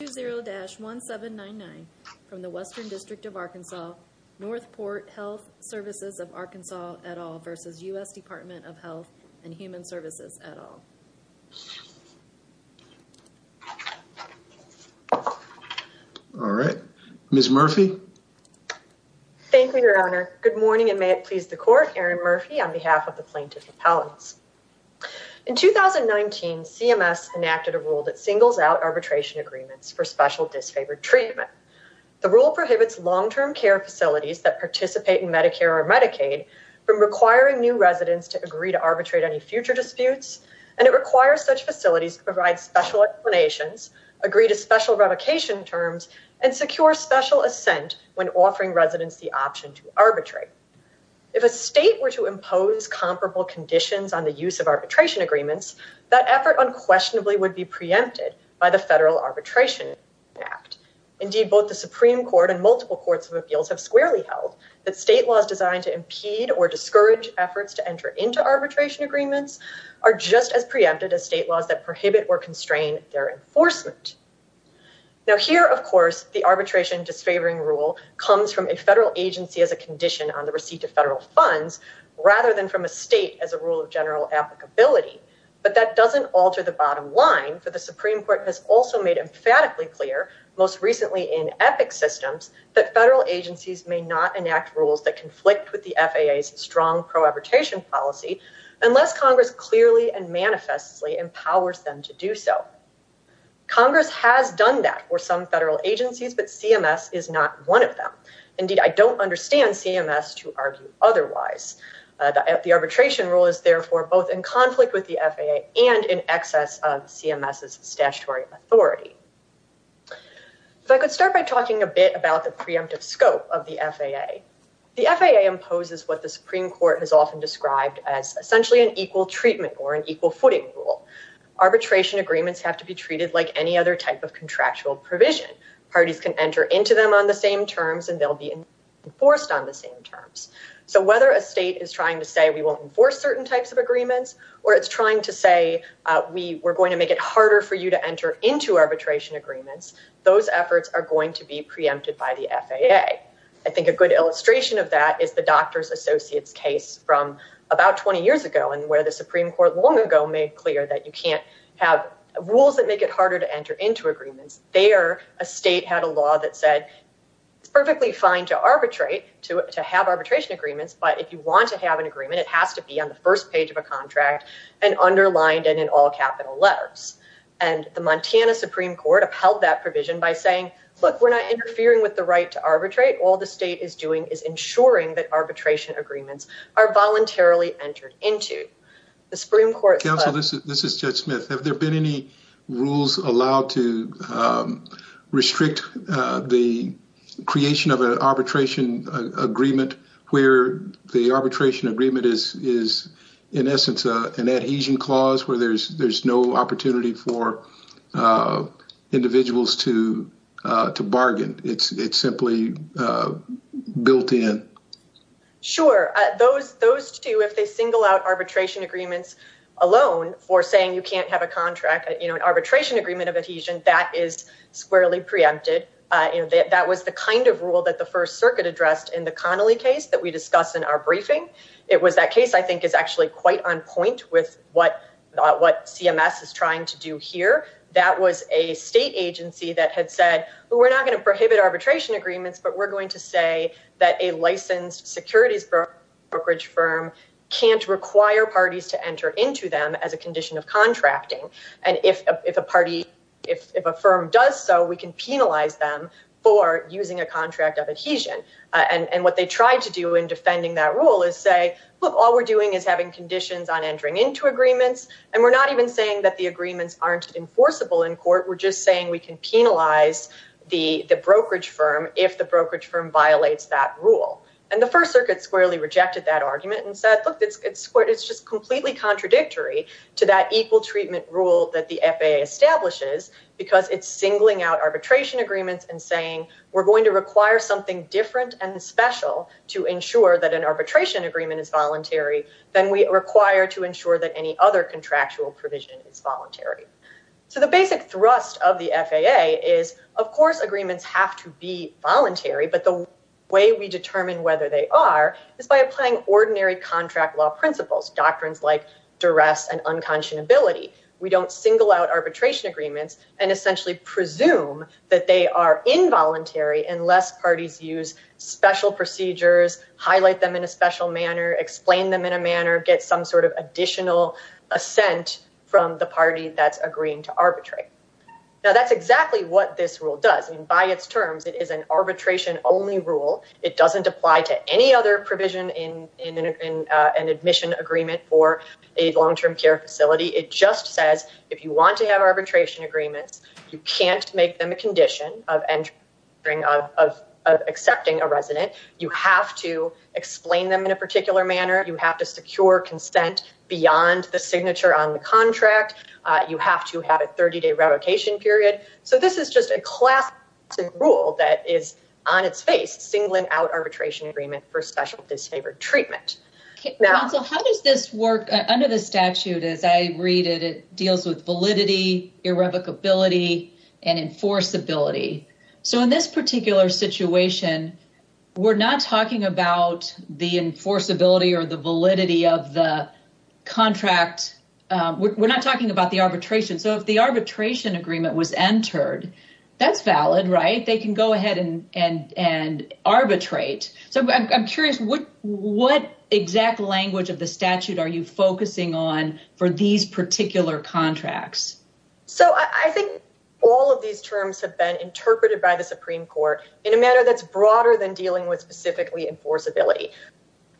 1799 from the Western District of Arkansas, Northport Health Svcs of Arkansas et al. v. U.S. Department of Health and Human Svcs et al. All right, Ms. Murphy. Thank you, Your Honor. Good morning, and may it please the Court, Erin Murphy, on behalf of the plaintiff's appellants. In 2019, CMS enacted a rule that special disfavored treatment. The rule prohibits long-term care facilities that participate in Medicare or Medicaid from requiring new residents to agree to arbitrate any future disputes, and it requires such facilities to provide special explanations, agree to special revocation terms, and secure special assent when offering residents the option to arbitrate. If a state were to impose comparable conditions on the use of arbitration agreements, that effort unquestionably would be preempted by the Federal Arbitration Act. Indeed, both the Supreme Court and multiple courts of appeals have squarely held that state laws designed to impede or discourage efforts to enter into arbitration agreements are just as preempted as state laws that prohibit or constrain their enforcement. Now, here, of course, the arbitration disfavoring rule comes from a federal agency as a condition on the receipt of federal funds rather than from a state as a rule of general applicability, but that doesn't alter the bottom line, for the Supreme Court has also made emphatically clear, most recently in EPIC systems, that federal agencies may not enact rules that conflict with the FAA's strong pro-arbitration policy unless Congress clearly and manifestly empowers them to do so. Congress has done that for some federal agencies, but CMS is not one of them. Indeed, I don't understand CMS to argue otherwise. The arbitration rule is, therefore, both in conflict with the FAA and in excess of CMS's statutory authority. If I could start by talking a bit about the preemptive scope of the FAA. The FAA imposes what the Supreme Court has often described as essentially an equal treatment or an equal footing rule. Arbitration agreements have to be treated like any other type of contractual provision. Parties can enter into them on the same terms, and they'll be enforced on the same terms. Whether a state is trying to say we won't enforce certain types of agreements, or it's trying to say we're going to make it harder for you to enter into arbitration agreements, those efforts are going to be preempted by the FAA. I think a good illustration of that is the Doctors Associates case from about 20 years ago, where the Supreme Court long ago made clear that you can't have rules that make it harder to enter into agreements. There, a state had a law that said it's perfectly fine to arbitrate, to have arbitration agreements, but if you want to have an agreement, it has to be on the first page of a contract and underlined and in all capital letters. The Montana Supreme Court upheld that provision by saying, look, we're not interfering with the right to arbitrate. All the state is doing is ensuring that arbitration agreements are voluntarily entered into. The Supreme Court- This is Judge Smith. Have there been any rules allowed to restrict the creation of an arbitration agreement where the arbitration agreement is, in essence, an adhesion clause where there's no opportunity for individuals to bargain? It's simply built in. Sure. Those two, if they single out arbitration agreements alone for saying you can't have a contract, an arbitration agreement of adhesion, that is squarely preempted. That was the kind of rule that the First Circuit addressed in the Connolly case that we discussed in our briefing. It was that case I think is actually quite on point with what CMS is trying to do here. That was a state agency that had said, we're not going to prohibit arbitration agreements, but we're going to say that a licensed securities brokerage firm can't require parties to enter into them as a condition of contracting. If a firm does so, we can penalize them for using a contract of adhesion. What they tried to do in defending that rule is say, look, all we're doing is having conditions on entering into agreements. We're not even saying that the agreements aren't enforceable in court. We're just saying we can penalize the brokerage firm if the brokerage firm violates that rule. And the First Circuit squarely rejected that argument and said, look, it's just completely contradictory to that equal treatment rule that the FAA establishes because it's singling out arbitration agreements and saying we're going to require something different and special to ensure that an arbitration agreement is voluntary than we require to ensure that any other contractual provision is voluntary. So the basic thrust of the FAA is, of course, agreements have to be voluntary, but the way we determine whether they are is by applying ordinary contract law principles, doctrines like duress and unconscionability. We don't single out arbitration agreements and essentially presume that they are involuntary unless parties use special procedures, highlight them in a special manner, explain them in a manner, get some sort of additional assent from the party that's agreeing to arbitrate. Now, that's exactly what this rule does. By its terms, it is an arbitration-only rule. It doesn't apply to any other provision in an admission agreement for a long-term care facility. It just says if you want to have arbitration agreements, you can't make them a condition of accepting a resident. You have to explain them in a particular manner. You have to secure consent beyond the revocation period. So this is just a class rule that is on its face, singling out arbitration agreement for special disfavored treatment. Okay, so how does this work under the statute? As I read it, it deals with validity, irrevocability, and enforceability. So in this particular situation, we're not talking about the enforceability or the validity of the contract. We're not talking about the arbitration. So if the arbitration agreement was entered, that's valid, right? They can go ahead and arbitrate. So I'm curious, what exact language of the statute are you focusing on for these particular contracts? So I think all of these terms have been interpreted by the Supreme Court in a manner that's broader than dealing with specifically enforceability.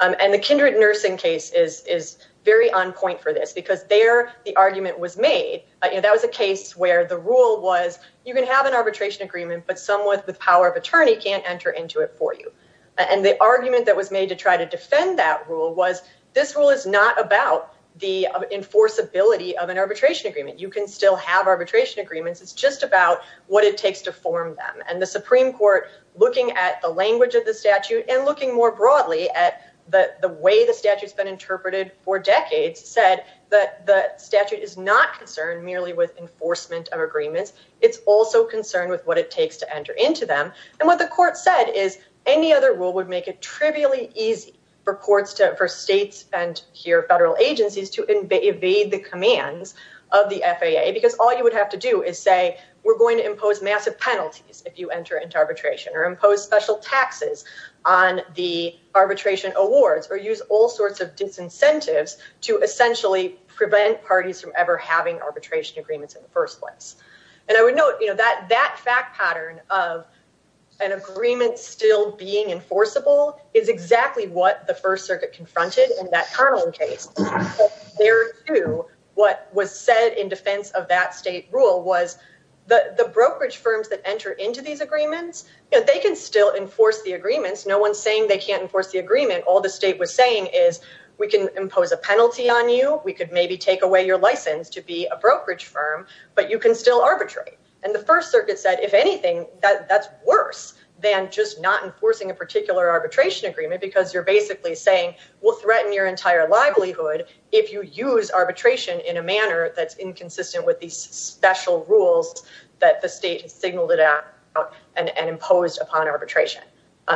And the Kindred Nursing case is very on point for this because there the argument was made. That was a case where the rule was, you can have an arbitration agreement, but someone with power of attorney can't enter into it for you. And the argument that was made to try to defend that rule was, this rule is not about the enforceability of an arbitration agreement. You can still have arbitration agreements. It's just about what it takes to form them. And the Supreme Court, looking at the language of the statute and looking more broadly at the way the statute's been interpreted for decades, said that the statute is not concerned merely with enforcement of agreements. It's also concerned with what it takes to enter into them. And what the court said is, any other rule would make it trivially easy for courts to, for states and here federal agencies, to evade the commands of the FAA. Because all you would have to do is say, we're going to impose massive penalties if you enter arbitration or impose special taxes on the arbitration awards or use all sorts of disincentives to essentially prevent parties from ever having arbitration agreements in the first place. And I would note, you know, that fact pattern of an agreement still being enforceable is exactly what the First Circuit confronted in that Connell case. What was said in defense of that state rule was that the brokerage firms that enter into these agreements, they can still enforce the agreements. No one's saying they can't enforce the agreement. All the state was saying is, we can impose a penalty on you. We could maybe take away your license to be a brokerage firm, but you can still arbitrate. And the First Circuit said, if anything, that's worse than just not enforcing a particular arbitration agreement because you're basically saying we'll threaten your entire livelihood if you use arbitration in a manner that's inconsistent with these special rules that the state has signaled it out and imposed upon arbitration.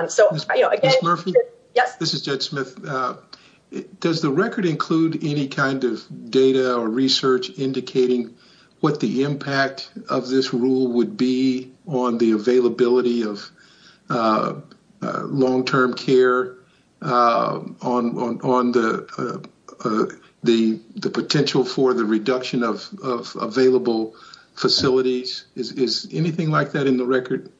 So, you know, again- Ms. Murphy? Yes. This is Judge Smith. Does the record include any kind of data or research indicating what the impact of this rule would be on the availability of long-term care, on the potential for the reduction of available facilities? Is anything like that in the record?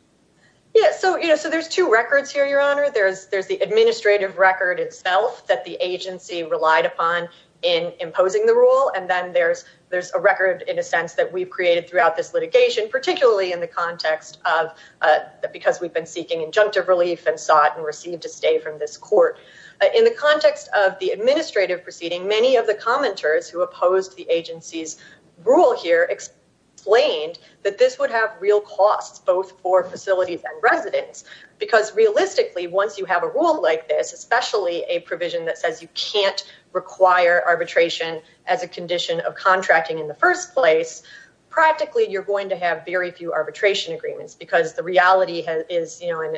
Yes. So, you know, so there's two records here, Your Honor. There's the administrative record itself that the agency relied upon in imposing the rule. And then there's a record in a sense that we've created throughout this litigation, particularly in the context of because we've been seeking injunctive relief and sought and received a stay from this court. In the context of the administrative proceeding, many of the commenters who opposed the agency's rule here explained that this would have real costs, both for facilities and residents, because realistically, once you have a rule like this, especially a provision that says you can't require arbitration as a condition of contracting in the first place, practically, you're going to have very few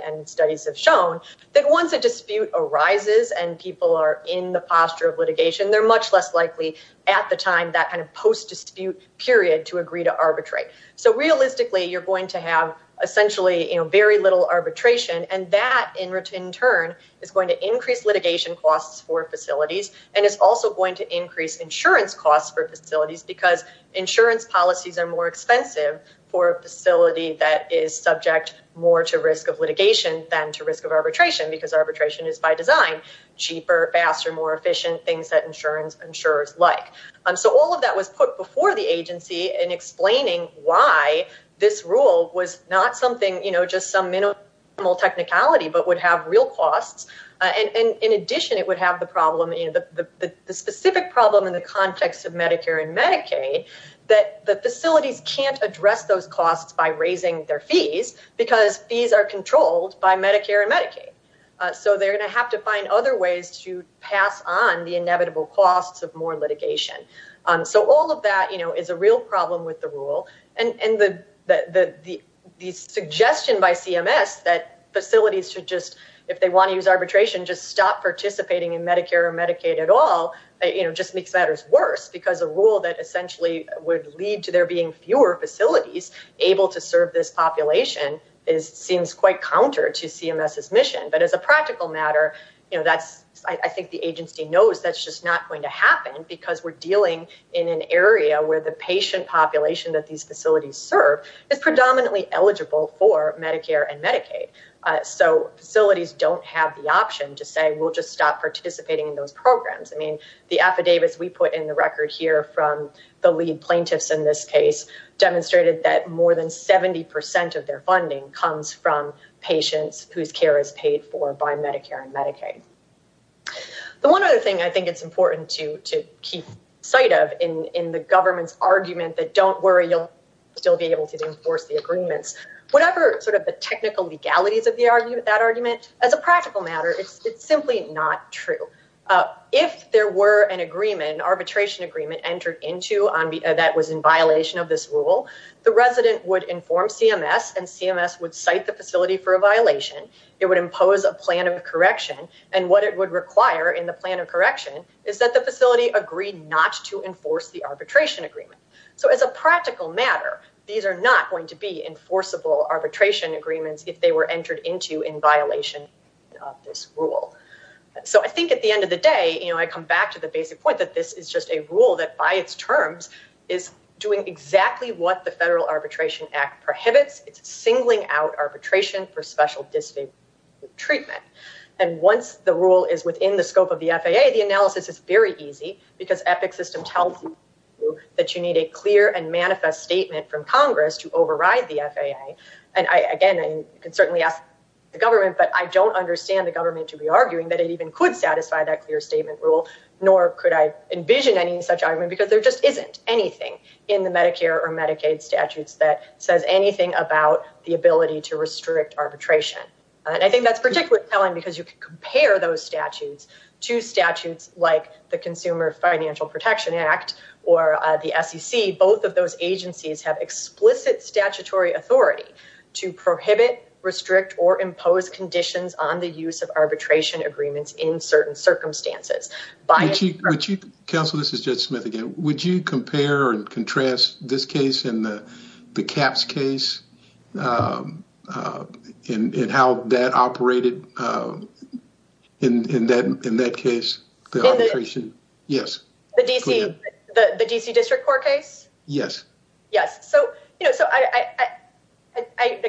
and studies have shown that once a dispute arises and people are in the posture of litigation, they're much less likely at the time that kind of post-dispute period to agree to arbitrate. So realistically, you're going to have essentially very little arbitration. And that, in turn, is going to increase litigation costs for facilities and is also going to increase insurance costs for facilities because insurance policies are more expensive for a facility that is subject more to risk of litigation than to risk of arbitration, because arbitration is by design cheaper, faster, more efficient, things that insurance insurers like. So all of that was put before the agency in explaining why this rule was not something, just some minimal technicality, but would have real costs. And in addition, it would have the problem, the specific problem in the context of Medicare and Medicaid, that the facilities can't address those costs by raising their fees because fees are controlled by Medicare and Medicaid. So they're going to have to find other ways to pass on the inevitable costs of more litigation. So all of that is a real problem with the rule. And the suggestion by CMS that facilities should just, if they want to use arbitration, just stop participating in Medicare or Medicaid at all, just makes matters worse, because a rule that essentially would lead to there being fewer facilities able to serve this population seems quite counter to CMS's mission. But as a practical matter, I think the agency knows that's just not going to happen because we're dealing in an area where the patient population that these facilities serve is predominantly eligible for Medicare and Medicaid. So facilities don't have the option to say, we'll just stop participating in those programs. I mean, the affidavits we put in the record here from the lead plaintiffs in this case demonstrated that 70% of their funding comes from patients whose care is paid for by Medicare and Medicaid. The one other thing I think it's important to keep sight of in the government's argument that don't worry, you'll still be able to enforce the agreements, whatever sort of the technical legalities of that argument, as a practical matter, it's simply not true. If there were an agreement, an arbitration agreement entered into that was in violation of this rule, the resident would inform CMS and CMS would cite the facility for a violation. It would impose a plan of correction. And what it would require in the plan of correction is that the facility agreed not to enforce the arbitration agreement. So as a practical matter, these are not going to be enforceable arbitration agreements if they were entered into in violation of this rule. So I think at the end of the day, I come back to the basic point that this is just a rule that by its terms is doing exactly what the Federal Arbitration Act prohibits. It's singling out arbitration for special treatment. And once the rule is within the scope of the FAA, the analysis is very easy because EPIC system tells you that you need a clear and manifest statement from Congress to override the FAA. And I, again, I can certainly ask the government, but I don't understand the government to be arguing that it even could satisfy that clear statement rule, nor could I envision any such argument because there just isn't anything in the Medicare or Medicaid statutes that says anything about the ability to restrict arbitration. And I think that's particularly telling because you can compare those statutes to statutes like the Consumer Financial Protection Act or the SEC. Both of those agencies have explicit statutory authority to prohibit, restrict, or impose conditions on the use of arbitration agreements in certain circumstances. Council, this is Judge Smith again. Would you compare and contrast this case and the CAPS case and how that operated in that case, the arbitration? Yes. The D.C. District Court case? Yes. Yes. So I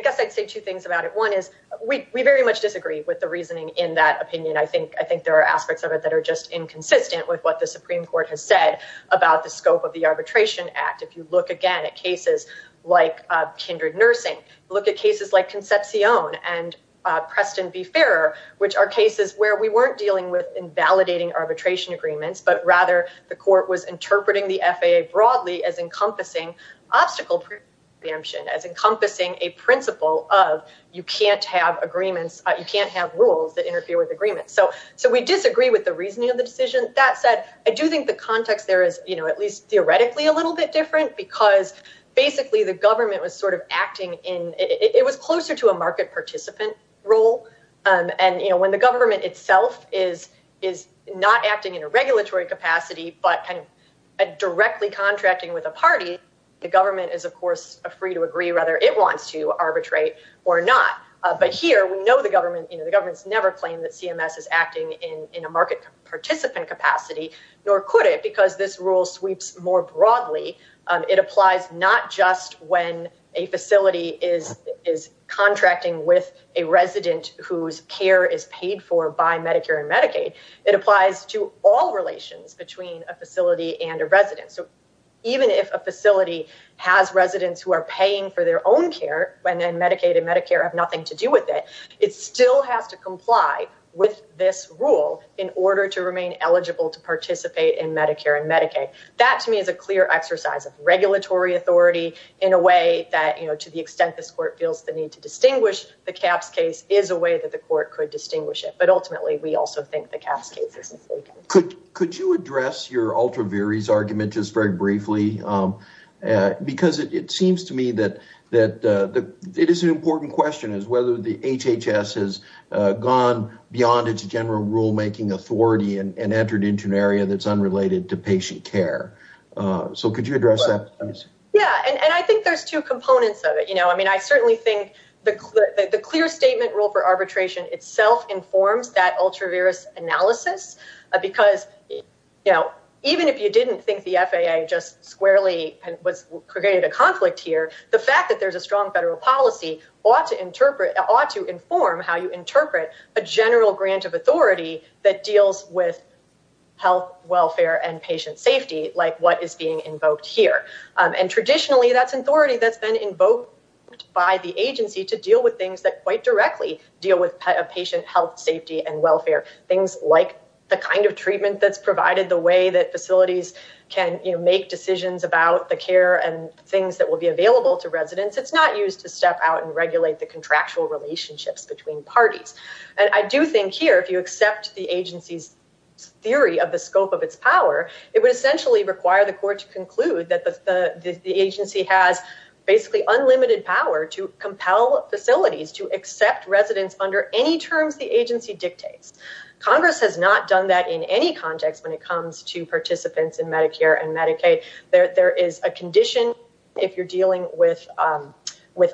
guess I'd say two things about it. One is we very much disagree with the reasoning in that opinion. I think there are aspects of it that are just inconsistent with what the Supreme Court has said about the scope of the Arbitration Act. If you look again at cases like kindred nursing, look at cases like Concepcion and Preston v. Ferrer, which are cases where we weren't dealing with invalidating arbitration agreements, but rather the court was interpreting the FAA broadly as encompassing obstacle preemption, as encompassing a principle of you can't have agreements, you can't have rules that interfere with agreements. So we disagree with the reasoning of the decision. That said, I do think the context there is at least theoretically a little bit different because basically the government was sort of acting in, it was closer to a market participant role. And when the government itself is not acting in a regulatory capacity, but kind of directly contracting with a party, the government is of course free to agree whether it wants to or not. So whether we know the government, the government's never claimed that CMS is acting in a market participant capacity, nor could it, because this rule sweeps more broadly. It applies not just when a facility is contracting with a resident whose care is paid for by Medicare and Medicaid. It applies to all relations between a facility and a resident. So even if a facility has residents who are paying for their own care, when then Medicaid and Medicare have nothing to do with it, it still has to comply with this rule in order to remain eligible to participate in Medicare and Medicaid. That to me is a clear exercise of regulatory authority in a way that, you know, to the extent this court feels the need to distinguish the CAPS case is a way that the court could distinguish it. But ultimately we also think the CAPS case is mistaken. Could you address your that it is an important question is whether the HHS has gone beyond its general rule-making authority and entered into an area that's unrelated to patient care. So could you address that? Yeah, and I think there's two components of it, you know. I mean, I certainly think the clear statement rule for arbitration itself informs that ultra-virus analysis, because you know, even if you didn't think the FAA just squarely was creating a conflict here, the fact that there's a strong federal policy ought to interpret, ought to inform how you interpret a general grant of authority that deals with health, welfare, and patient safety like what is being invoked here. And traditionally that's authority that's been invoked by the agency to deal with things that quite directly deal with patient health, safety, and welfare. Things like the kind of treatment that's provided, the way that facilities can, you know, make decisions about the care and things that will be available to residents. It's not used to step out and regulate the contractual relationships between parties. And I do think here, if you accept the agency's theory of the scope of its power, it would essentially require the court to conclude that the agency has basically unlimited power to compel facilities to accept residents under any terms the agency dictates. Congress has not done that in any context when it comes to participants in Medicare and Medicaid. There is a condition if you're dealing with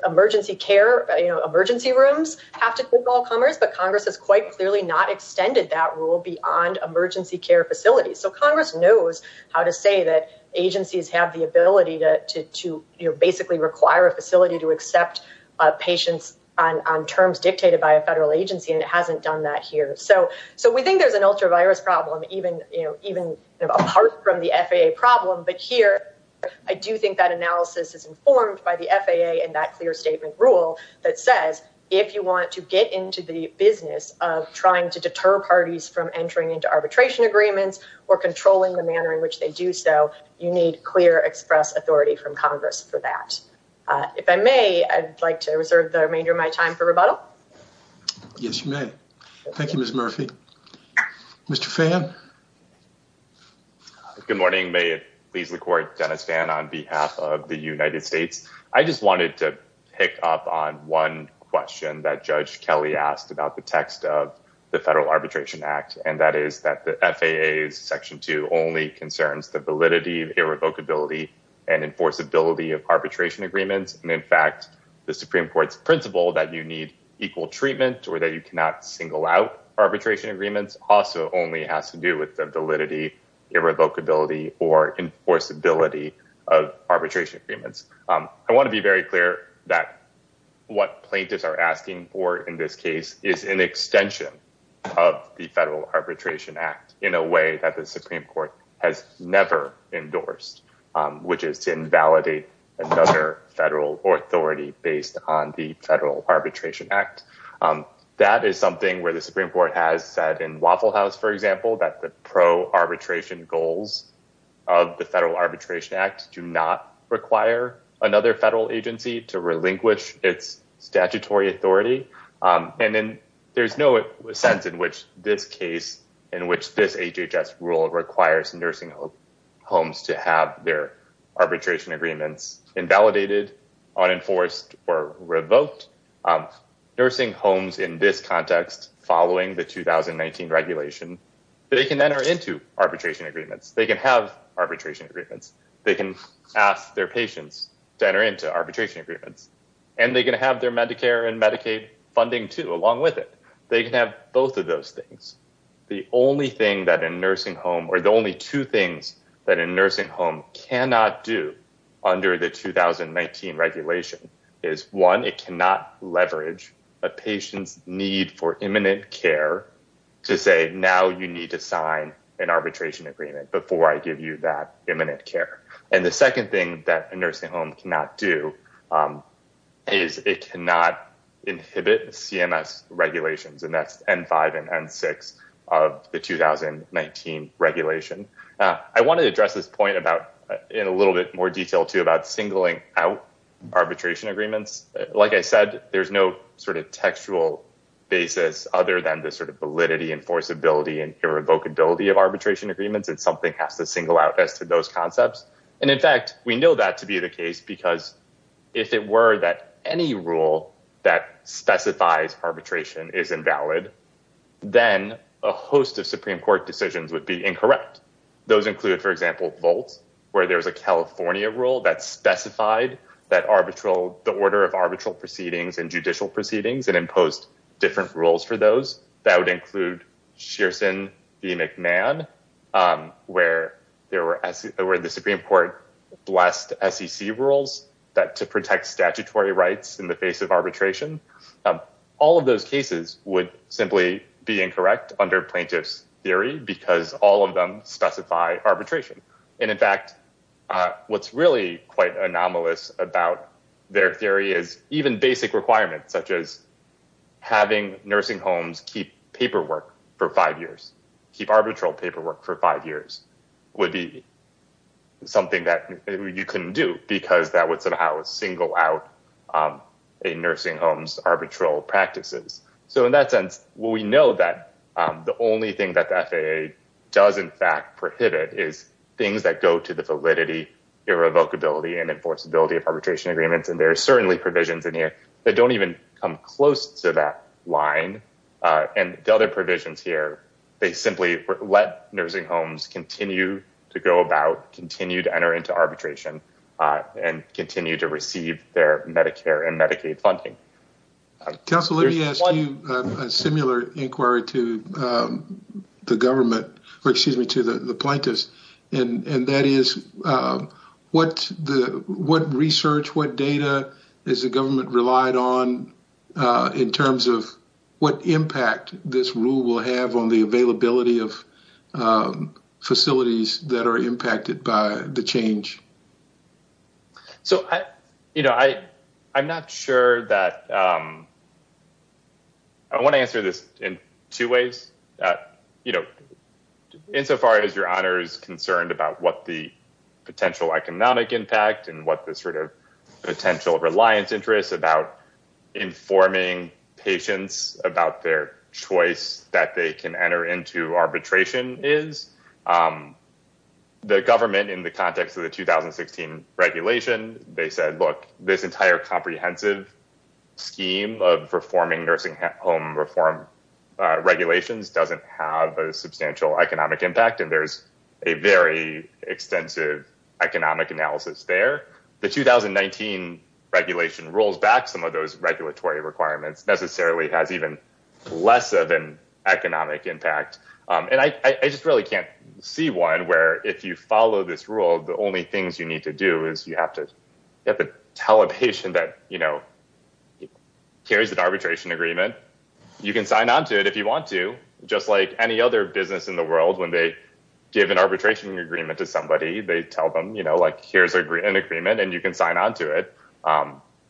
emergency care, you know, emergency rooms have to compel comers, but Congress has quite clearly not extended that rule beyond emergency care facilities. So Congress knows how to say that agencies have the ability to basically require a facility to accept patients on terms dictated by a federal agency, and it hasn't done that here. So we think there's an ultra-virus problem even apart from the FAA problem, but here I do think that analysis is informed by the FAA and that clear statement rule that says if you want to get into the business of trying to deter parties from entering into arbitration agreements or controlling the manner in which they do so, you need clear express authority from Congress for that. If I may, I'd like to reserve the remainder of my time for rebuttal. Yes, you may. Thank you, Ms. Murphy. Mr. Phan? Good morning. May it please the court, Dennis Phan on behalf of the United States. I just wanted to pick up on one question that Judge Kelly asked about the text of the Federal Arbitration Act, and that is that the FAA's Section 2 only concerns the validity, irrevocability, and enforceability of arbitration agreements. And in fact, the Supreme Court's principle that you need equal treatment or that you cannot single out arbitration agreements also only has to do with the validity, irrevocability, or enforceability of arbitration agreements. I want to be very clear that what plaintiffs are asking for in this case is an extension of the Federal Arbitration Act in a way that the Supreme Court has never endorsed, which is to invalidate another federal authority based on the Federal Arbitration Act. That is something where the Supreme Court has said in Waffle House, for example, that the pro-arbitration goals of the Federal Arbitration Act do not require another federal agency to relinquish its statutory authority. And then there's no sense in which this case, in which this HHS rule requires nursing homes to have their arbitration agreements invalidated, unenforced, or revoked. Nursing homes in this context, following the 2019 regulation, they can enter into arbitration agreements. They can have ask their patients to enter into arbitration agreements. And they can have their Medicare and Medicaid funding too, along with it. They can have both of those things. The only thing that a nursing home, or the only two things that a nursing home cannot do under the 2019 regulation is one, it cannot leverage a patient's need for imminent care to say, now you need to sign an arbitration agreement before I give you that imminent care. And the second thing that a nursing home cannot do is it cannot inhibit CMS regulations. And that's N5 and N6 of the 2019 regulation. I wanted to address this point about, in a little bit more detail too, about singling out arbitration agreements. Like I said, there's no sort of textual basis other than the sort of arbitration agreements, and something has to single out as to those concepts. And in fact, we know that to be the case, because if it were that any rule that specifies arbitration is invalid, then a host of Supreme Court decisions would be incorrect. Those include, for example, Volt, where there was a California rule that specified the order of arbitral proceedings and judicial proceedings and imposed different rules for those. That would include Shearson v. McMahon, where the Supreme Court blessed SEC rules to protect statutory rights in the face of arbitration. All of those cases would simply be incorrect under plaintiff's theory because all of them specify arbitration. And in fact, what's really quite anomalous about their theory is even basic requirements, such as having nursing homes keep paperwork for five years, keep arbitral paperwork for five years, would be something that you couldn't do because that would somehow single out a nursing home's arbitral practices. So in that sense, we know that the only thing that the FAA does in fact prohibit is things that go to the validity, irrevocability, and enforceability of arbitration agreements. And there are certainly provisions in here that don't even come close to that line. And the other provisions here, they simply let nursing homes continue to go about, continue to enter into arbitration, and continue to receive their Medicare and Medicaid funding. Council, let me ask you a similar inquiry to the government, in terms of what impact this rule will have on the availability of facilities that are impacted by the change. I want to answer this in two ways. Insofar as your honor is concerned about what the potential economic impact and what the potential reliance interest about informing patients about their choice that they can enter into arbitration is, the government in the context of the 2016 regulation, they said, look, this entire comprehensive scheme of reforming nursing home reform regulations doesn't have a substantial economic impact and there's a very extensive economic analysis there. The 2019 regulation rolls back some of those regulatory requirements, necessarily has even less of an economic impact. And I just really can't see one where if you follow this rule, the only things you need to do is you have to tell a patient that, you know, here's an arbitration agreement. You can sign onto it if you want to, just like any other business in the world, when they give an arbitration agreement to somebody, they tell them, you know, here's an agreement and you can sign onto it.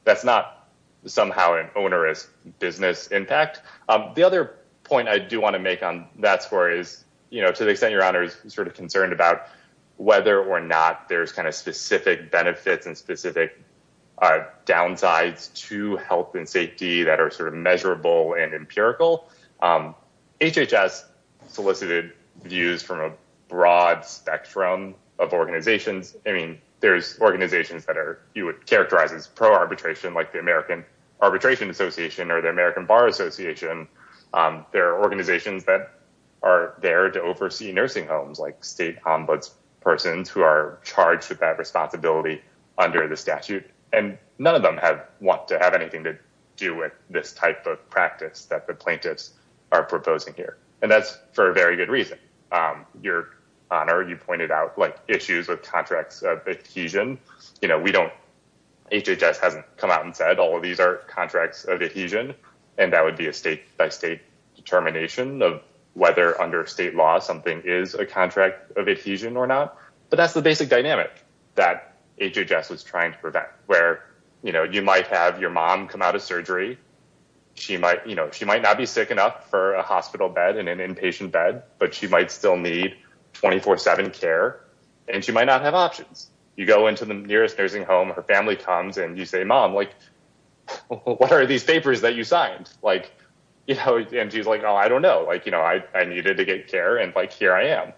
That's not somehow an onerous business impact. The other point I do want to make on that score is, you know, to the extent your honor is sort of concerned about whether or not there's kind of specific benefits and specific downsides to health and safety that are sort of measurable and empirical. HHS solicited views from a broad spectrum of organizations. I mean, there's organizations that are, you would characterize as pro-arbitration, like the American Arbitration Association or the American Bar Association. There are organizations that are there to oversee nursing homes, like state ombuds persons who are charged with that responsibility under the statute. And none of them want to have anything to do with this type of practice that the plaintiffs are proposing here. And that's for a very good reason. Your honor, you pointed out, like, issues with contracts of adhesion. You know, we don't, HHS hasn't come out and said all of these are contracts of adhesion, and that would be a state by state determination of whether under state law something is a contract of adhesion or not. But that's the basic dynamic that HHS was trying to prevent, where, you know, you might have your mom come out of surgery. She might, you know, she might not be sick enough for a hospital bed and an inpatient bed, but she might still need 24-7 care, and she might not have options. You go into the nearest nursing home, her family comes, and you say, mom, like, what are these papers that you signed? Like, you know, and she's like, oh, I don't know. Like, you know, I needed to get care, and like, here I am.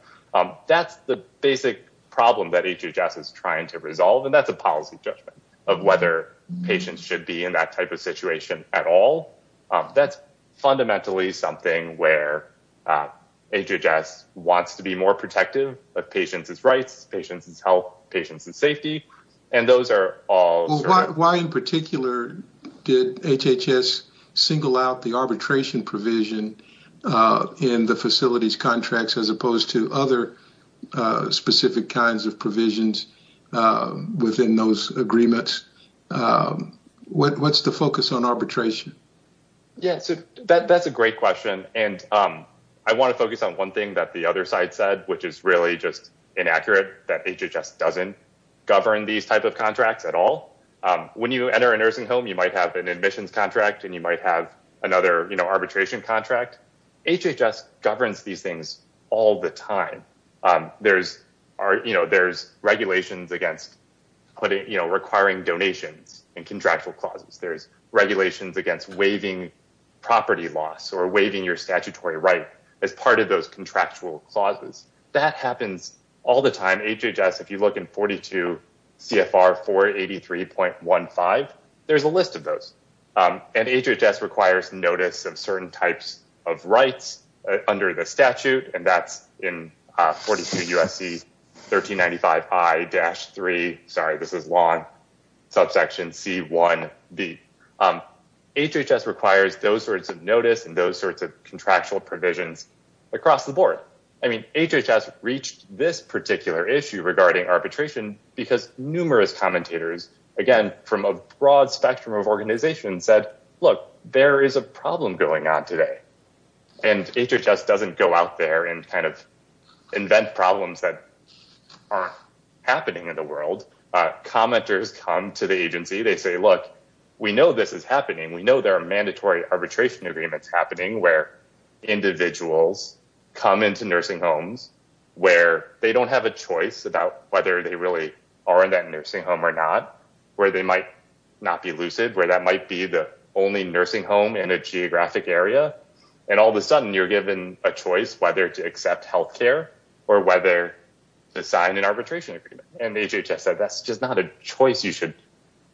That's the basic problem that HHS is trying to resolve, and that's a policy judgment of whether patients should be in that type of situation at all. That's fundamentally something where HHS wants to be more protective of patients' rights, patients' health, patients' safety, and those are all- Why in particular did HHS single out the arbitration provision in the facilities contracts as opposed to other specific kinds of provisions within those agreements? What's the focus on arbitration? Yeah, so that's a great question, and I want to focus on one thing that the other side said, which is really just inaccurate, that HHS doesn't govern these type of contracts at all. When you enter a nursing home, you might have an admissions contract, and you might have another, you know, arbitration contract. HHS governs these things all the time. There's, are, you know, there's regulations against putting, you know, requiring donations in contractual clauses. There's regulations against waiving property loss or waiving your statutory right as part of those contractual clauses. That happens all the time. HHS, if you look in 42 CFR 483.15, there's a list of those, and HHS requires notice of certain types of rights under the statute, and that's in 42 USC 1395I-3, sorry this is long, subsection C1b. HHS requires those sorts of notice and those sorts of contractual provisions across the board. I mean, HHS reached this particular issue regarding arbitration because numerous commentators, again from a broad spectrum of organizations, said, look, there is a problem going on today, and HHS doesn't go out there and kind of invent problems that aren't happening in the world. Commenters come to the agency. They say, look, we know this is happening. We know there are mandatory arbitration agreements happening where individuals come into nursing homes where they don't have a choice about whether they really are in that only nursing home in a geographic area, and all of a sudden you're given a choice whether to accept health care or whether to sign an arbitration agreement, and HHS said that's just not a choice you should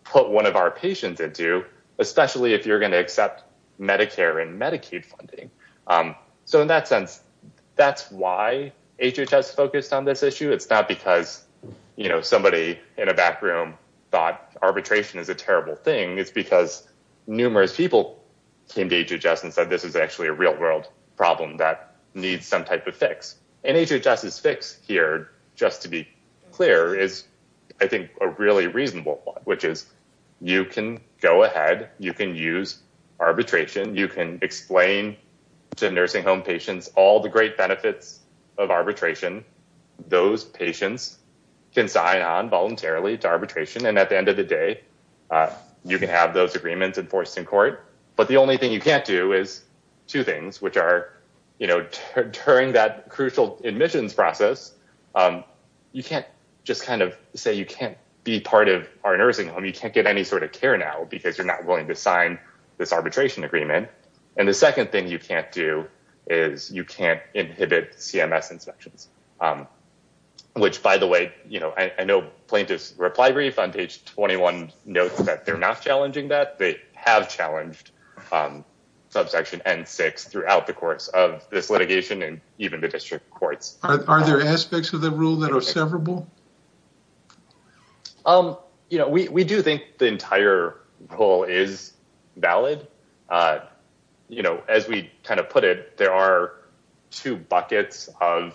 put one of our patients into, especially if you're going to accept Medicare and Medicaid funding. So in that sense, that's why HHS focused on this issue. It's not because, you know, somebody in a back room thought arbitration is a terrible thing. It's numerous people came to HHS and said this is actually a real-world problem that needs some type of fix, and HHS's fix here, just to be clear, is, I think, a really reasonable one, which is you can go ahead. You can use arbitration. You can explain to nursing home patients all the great benefits of arbitration. Those patients can sign on voluntarily to arbitration, and at the end of day, you can have those agreements enforced in court, but the only thing you can't do is two things, which are, you know, during that crucial admissions process, you can't just kind of say you can't be part of our nursing home. You can't get any sort of care now because you're not willing to sign this arbitration agreement, and the second thing you can't do is you can't inhibit CMS inspections, which, by the way, you know, I know plaintiff's reply brief on page 21 notes that they're not challenging that. They have challenged subsection N6 throughout the course of this litigation and even the district courts. Are there aspects of the rule that are severable? You know, we do think the entire rule is valid. You know, as we kind of put it, there are two buckets of,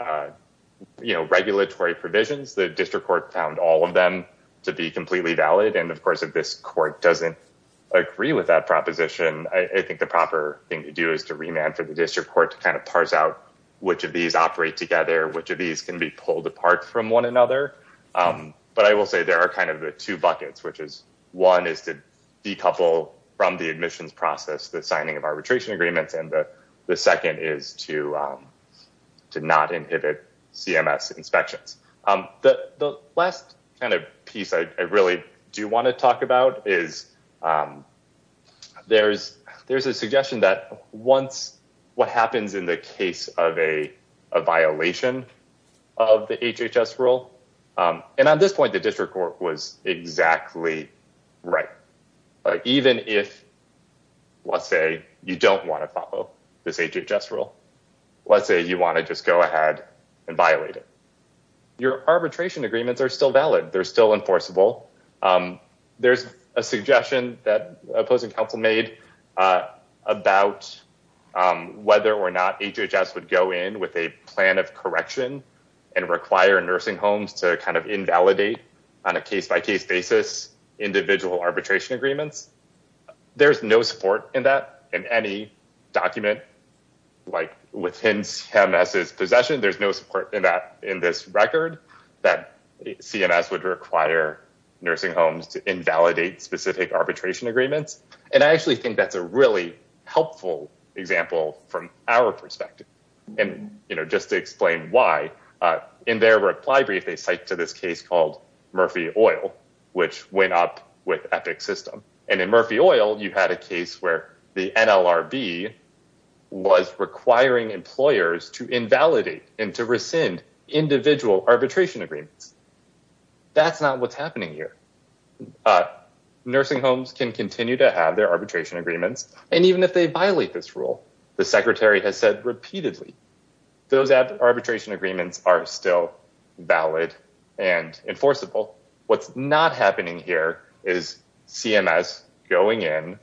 you know, regulatory provisions. The district court found all of them to be completely valid, and, of course, if this court doesn't agree with that proposition, I think the proper thing to do is to remand for the district court to kind of parse out which of these operate together, which of these can be pulled apart from one another, but I will say there are kind of the two buckets, which is one is to decouple from the admissions process the signing of arbitration agreements, and the second is to not inhibit CMS inspections. The last kind of piece I really do want to talk about is there's a suggestion that once what happens in the case of a violation of the HHS rule, and at this point the district court was exactly right. Even if, let's say, you don't want to follow this HHS rule, let's say you want to just go ahead and violate it, your arbitration agreements are still valid. They're still enforceable. There's a suggestion that opposing counsel made about whether or not HHS would go in with a plan of correction and require nursing homes to kind of invalidate on a case-by-case basis individual arbitration agreements. There's no support in that in any document, like within CMS's possession. There's no support in that in this record that CMS would require nursing homes to invalidate specific arbitration agreements, and I actually think that's a really helpful example from our perspective, and, you know, just to explain why, in their reply brief they cite to this case called Murphy Oil, which went up with Epic System, and in Murphy Oil you had a case where the NLRB was requiring employers to invalidate and to rescind individual arbitration agreements. That's not what's happening here. Nursing homes can continue to have their arbitration agreements, and even if they violate this rule, the secretary has said repeatedly, those arbitration agreements are still valid and enforceable. What's not happening here is CMS going in,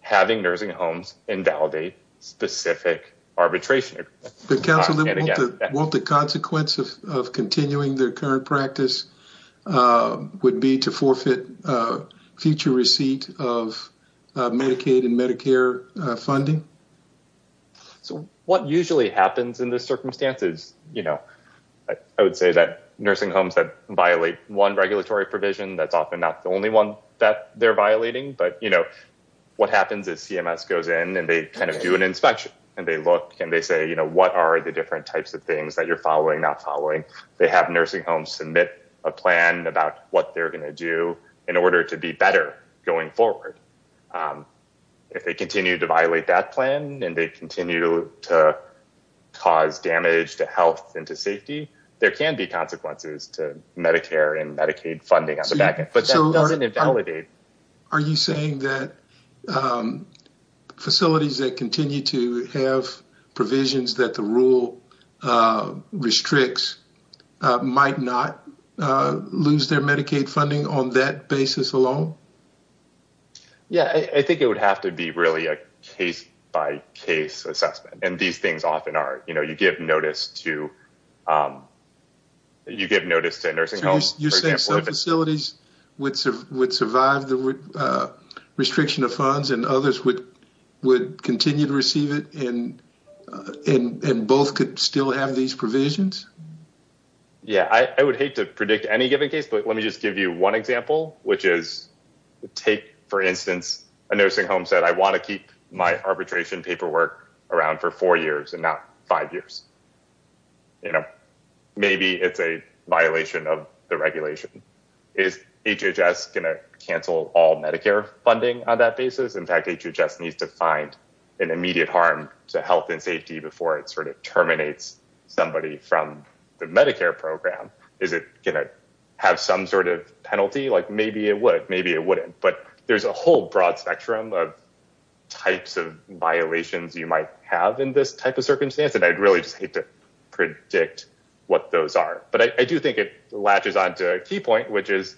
having nursing homes invalidate specific arbitration agreements. But counsel, won't the consequence of continuing their current practice would be to forfeit future receipt of Medicaid and Medicare funding? So, what usually happens in this circumstance is, you know, I would say that nursing homes that violate one regulatory provision, that's often not the only one that they're violating, but, you know, what happens is CMS goes in and they kind of do an inspection, and they look and they say, you know, what are the different types of things that you're following, not following. They have nursing homes submit a plan about what they're going to do in order to be better going forward. If they continue to violate that plan, and they continue to cause damage to health and to safety, there can be consequences to Medicare and Medicaid funding on the back end. Are you saying that facilities that continue to have provisions that the rule restricts might not lose their Medicaid funding on that basis alone? Yeah, I think it would have to be really a case-by-case assessment, and these things often are. You know, you give notice to a nursing home. So, you're saying some facilities would survive the restriction of funds, and others would continue to receive it, and both could still have these provisions? Yeah, I would hate to predict any given case, but let me just give you one example, which is take, for instance, a nursing home said, I want to keep my arbitration paperwork around for four years and not five years. You know, maybe it's a violation of the regulation. Is HHS going to cancel all Medicare funding on that basis? In fact, HHS needs to find an immediate harm to health and safety before it sort of terminates somebody from the Medicare program. Is it going to have some sort of penalty? Like, maybe it would, maybe it wouldn't, but there's a whole broad spectrum of types of violations you might have in this type of circumstance, and I'd really just hate to predict what those are, but I do think it latches on to a key point, which is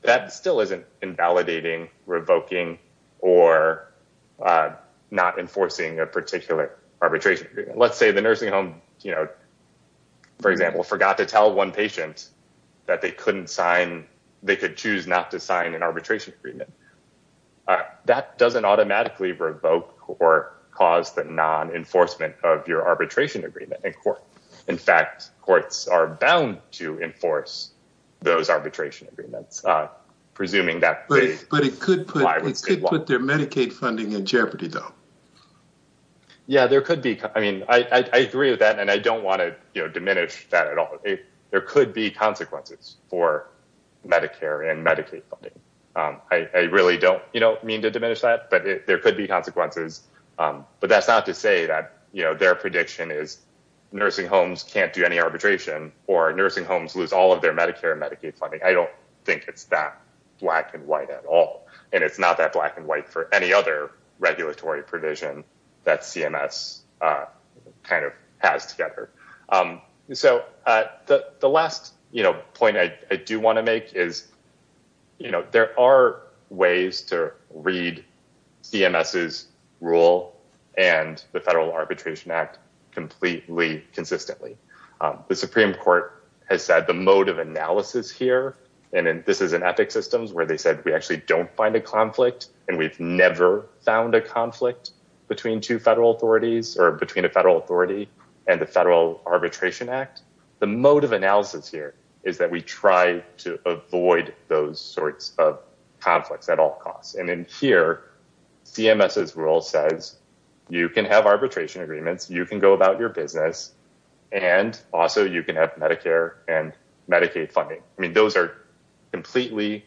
that still isn't invalidating, revoking, or not enforcing a particular arbitration. Let's say the nursing home, you know, for example, forgot to tell one patient that they couldn't sign, they could choose not to sign an arbitration agreement. That doesn't automatically revoke or cause the non-enforcement of your arbitration agreement. In fact, courts are bound to enforce those arbitration agreements, presuming that they comply with state law. But it could put their Medicaid funding in jeopardy, though. Yeah, there could be. I mean, I agree with that, and I don't want to, you know, diminish that at all. There could be consequences for Medicare and Medicaid funding. I really don't, you know, mean to diminish that, but there could be consequences. But that's not to say that, you know, their prediction is nursing homes can't do any arbitration or nursing homes lose all of their Medicare and Medicaid funding. I don't think it's that black and white at all, and it's not that black and white for any other regulatory provision that CMS kind of has together. So the last, you know, point I do want to make is, you know, there are ways to read CMS's rule and the Federal Arbitration Act completely consistently. The Supreme Court has said the mode of analysis here, and this is in EPIC systems where they said we actually don't find a conflict, and we've never found a conflict between two federal authorities or between a federal authority and the Federal Arbitration Act. The mode of analysis here is that we try to avoid those sorts of conflicts at all costs. And in here, CMS's rule says you can have arbitration agreements, you can go about your business, and also you can have Medicare and Medicaid funding. I mean, those are completely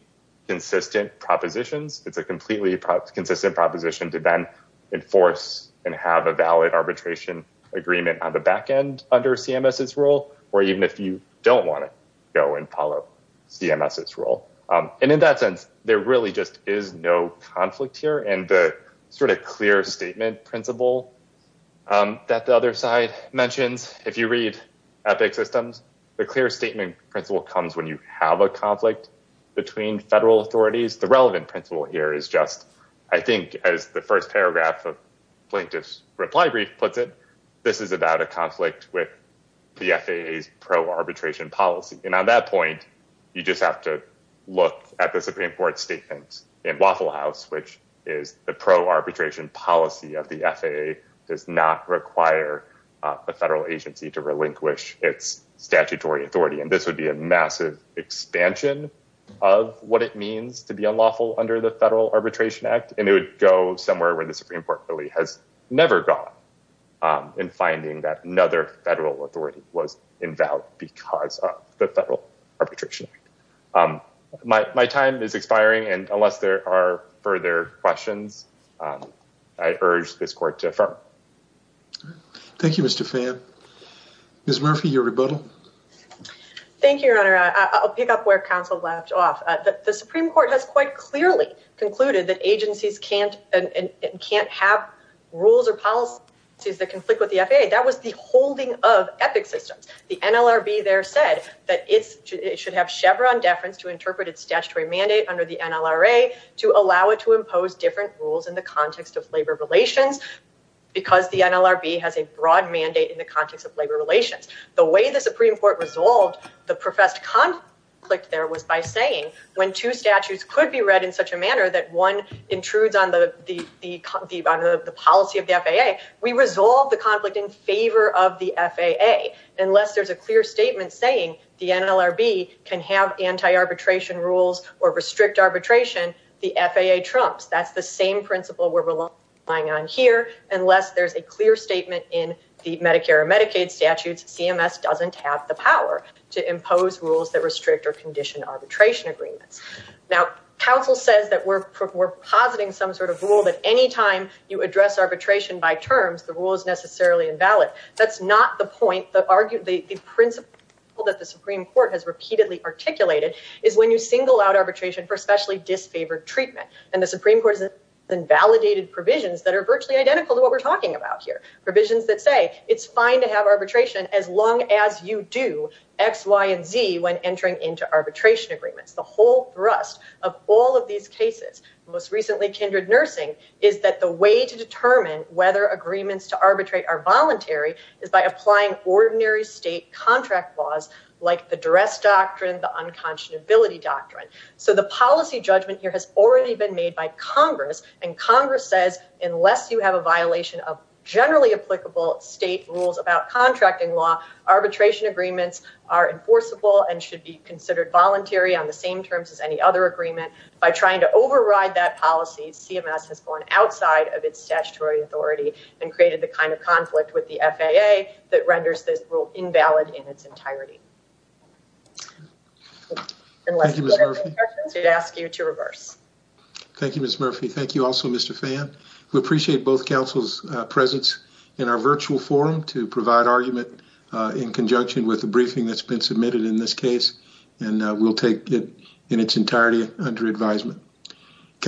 consistent propositions. It's a completely consistent proposition to then enforce and have a valid arbitration agreement on the back end under CMS's rule, or even if you don't want to go and follow CMS's rule. And in that sense, there really just is no conflict here. And the sort of clear statement principle that the other side mentions, if you read EPIC systems, the clear statement principle comes when you have a conflict between federal authorities. The relevant principle here is just, I think, as the first paragraph of Plaintiff's Reply Brief puts it, this is about a conflict with the FAA's pro-arbitration policy. And on that point, you just have to look at the Supreme Court statement in Waffle House, which is the pro-arbitration policy of the FAA does not require a federal agency to relinquish its statutory authority. And this would be a massive expansion of what it means to be unlawful under the Federal Arbitration Act. And it would go somewhere where the Supreme Court really has never gone in finding that another federal authority was involved because of the Federal Arbitration Act. My time is expiring. And unless there are further questions, I urge this court to affirm. Thank you, Mr. Fan. Ms. Murphy, your pick up where counsel left off. The Supreme Court has quite clearly concluded that agencies can't have rules or policies that conflict with the FAA. That was the holding of EPIC systems. The NLRB there said that it should have Chevron deference to interpret its statutory mandate under the NLRA to allow it to impose different rules in the context of labor relations because the NLRB has a broad mandate in the context of labor relations. The way the Supreme Court resolved the professed conflict there was by saying when two statutes could be read in such a manner that one intrudes on the policy of the FAA, we resolve the conflict in favor of the FAA. Unless there's a clear statement saying the NLRB can have anti-arbitration rules or restrict arbitration, the FAA trumps. That's the same principle we're relying on here. Unless there's a clear statement in the Medicare and Medicaid statutes, CMS doesn't have the power to impose rules that restrict or condition arbitration agreements. Now, counsel says that we're positing some sort of rule that any time you address arbitration by terms, the rule is necessarily invalid. That's not the point. The principle that the Supreme Court has repeatedly articulated is when you single out arbitration for specially disfavored treatment. And the Supreme Court has invalidated provisions that are virtually identical to what we're talking about here. Provisions that say it's fine to have arbitration as long as you do X, Y, and Z when entering into arbitration agreements. The whole thrust of all of these cases, most recently kindred nursing, is that the way to determine whether agreements to arbitrate are voluntary is by applying ordinary state contract laws like the dress doctrine, the unconscionability doctrine. So the policy judgment has already been made by Congress, and Congress says unless you have a violation of generally applicable state rules about contracting law, arbitration agreements are enforceable and should be considered voluntary on the same terms as any other agreement. By trying to override that policy, CMS has gone outside of its statutory authority and created the kind of conflict with the FAA that renders this rule invalid in its entirety. Thank you, Ms. Murphy. Thank you also, Mr. Phan. We appreciate both counsel's presence in our virtual forum to provide argument in conjunction with the briefing that's been submitted in this case, and we'll take it in its entirety under advisement.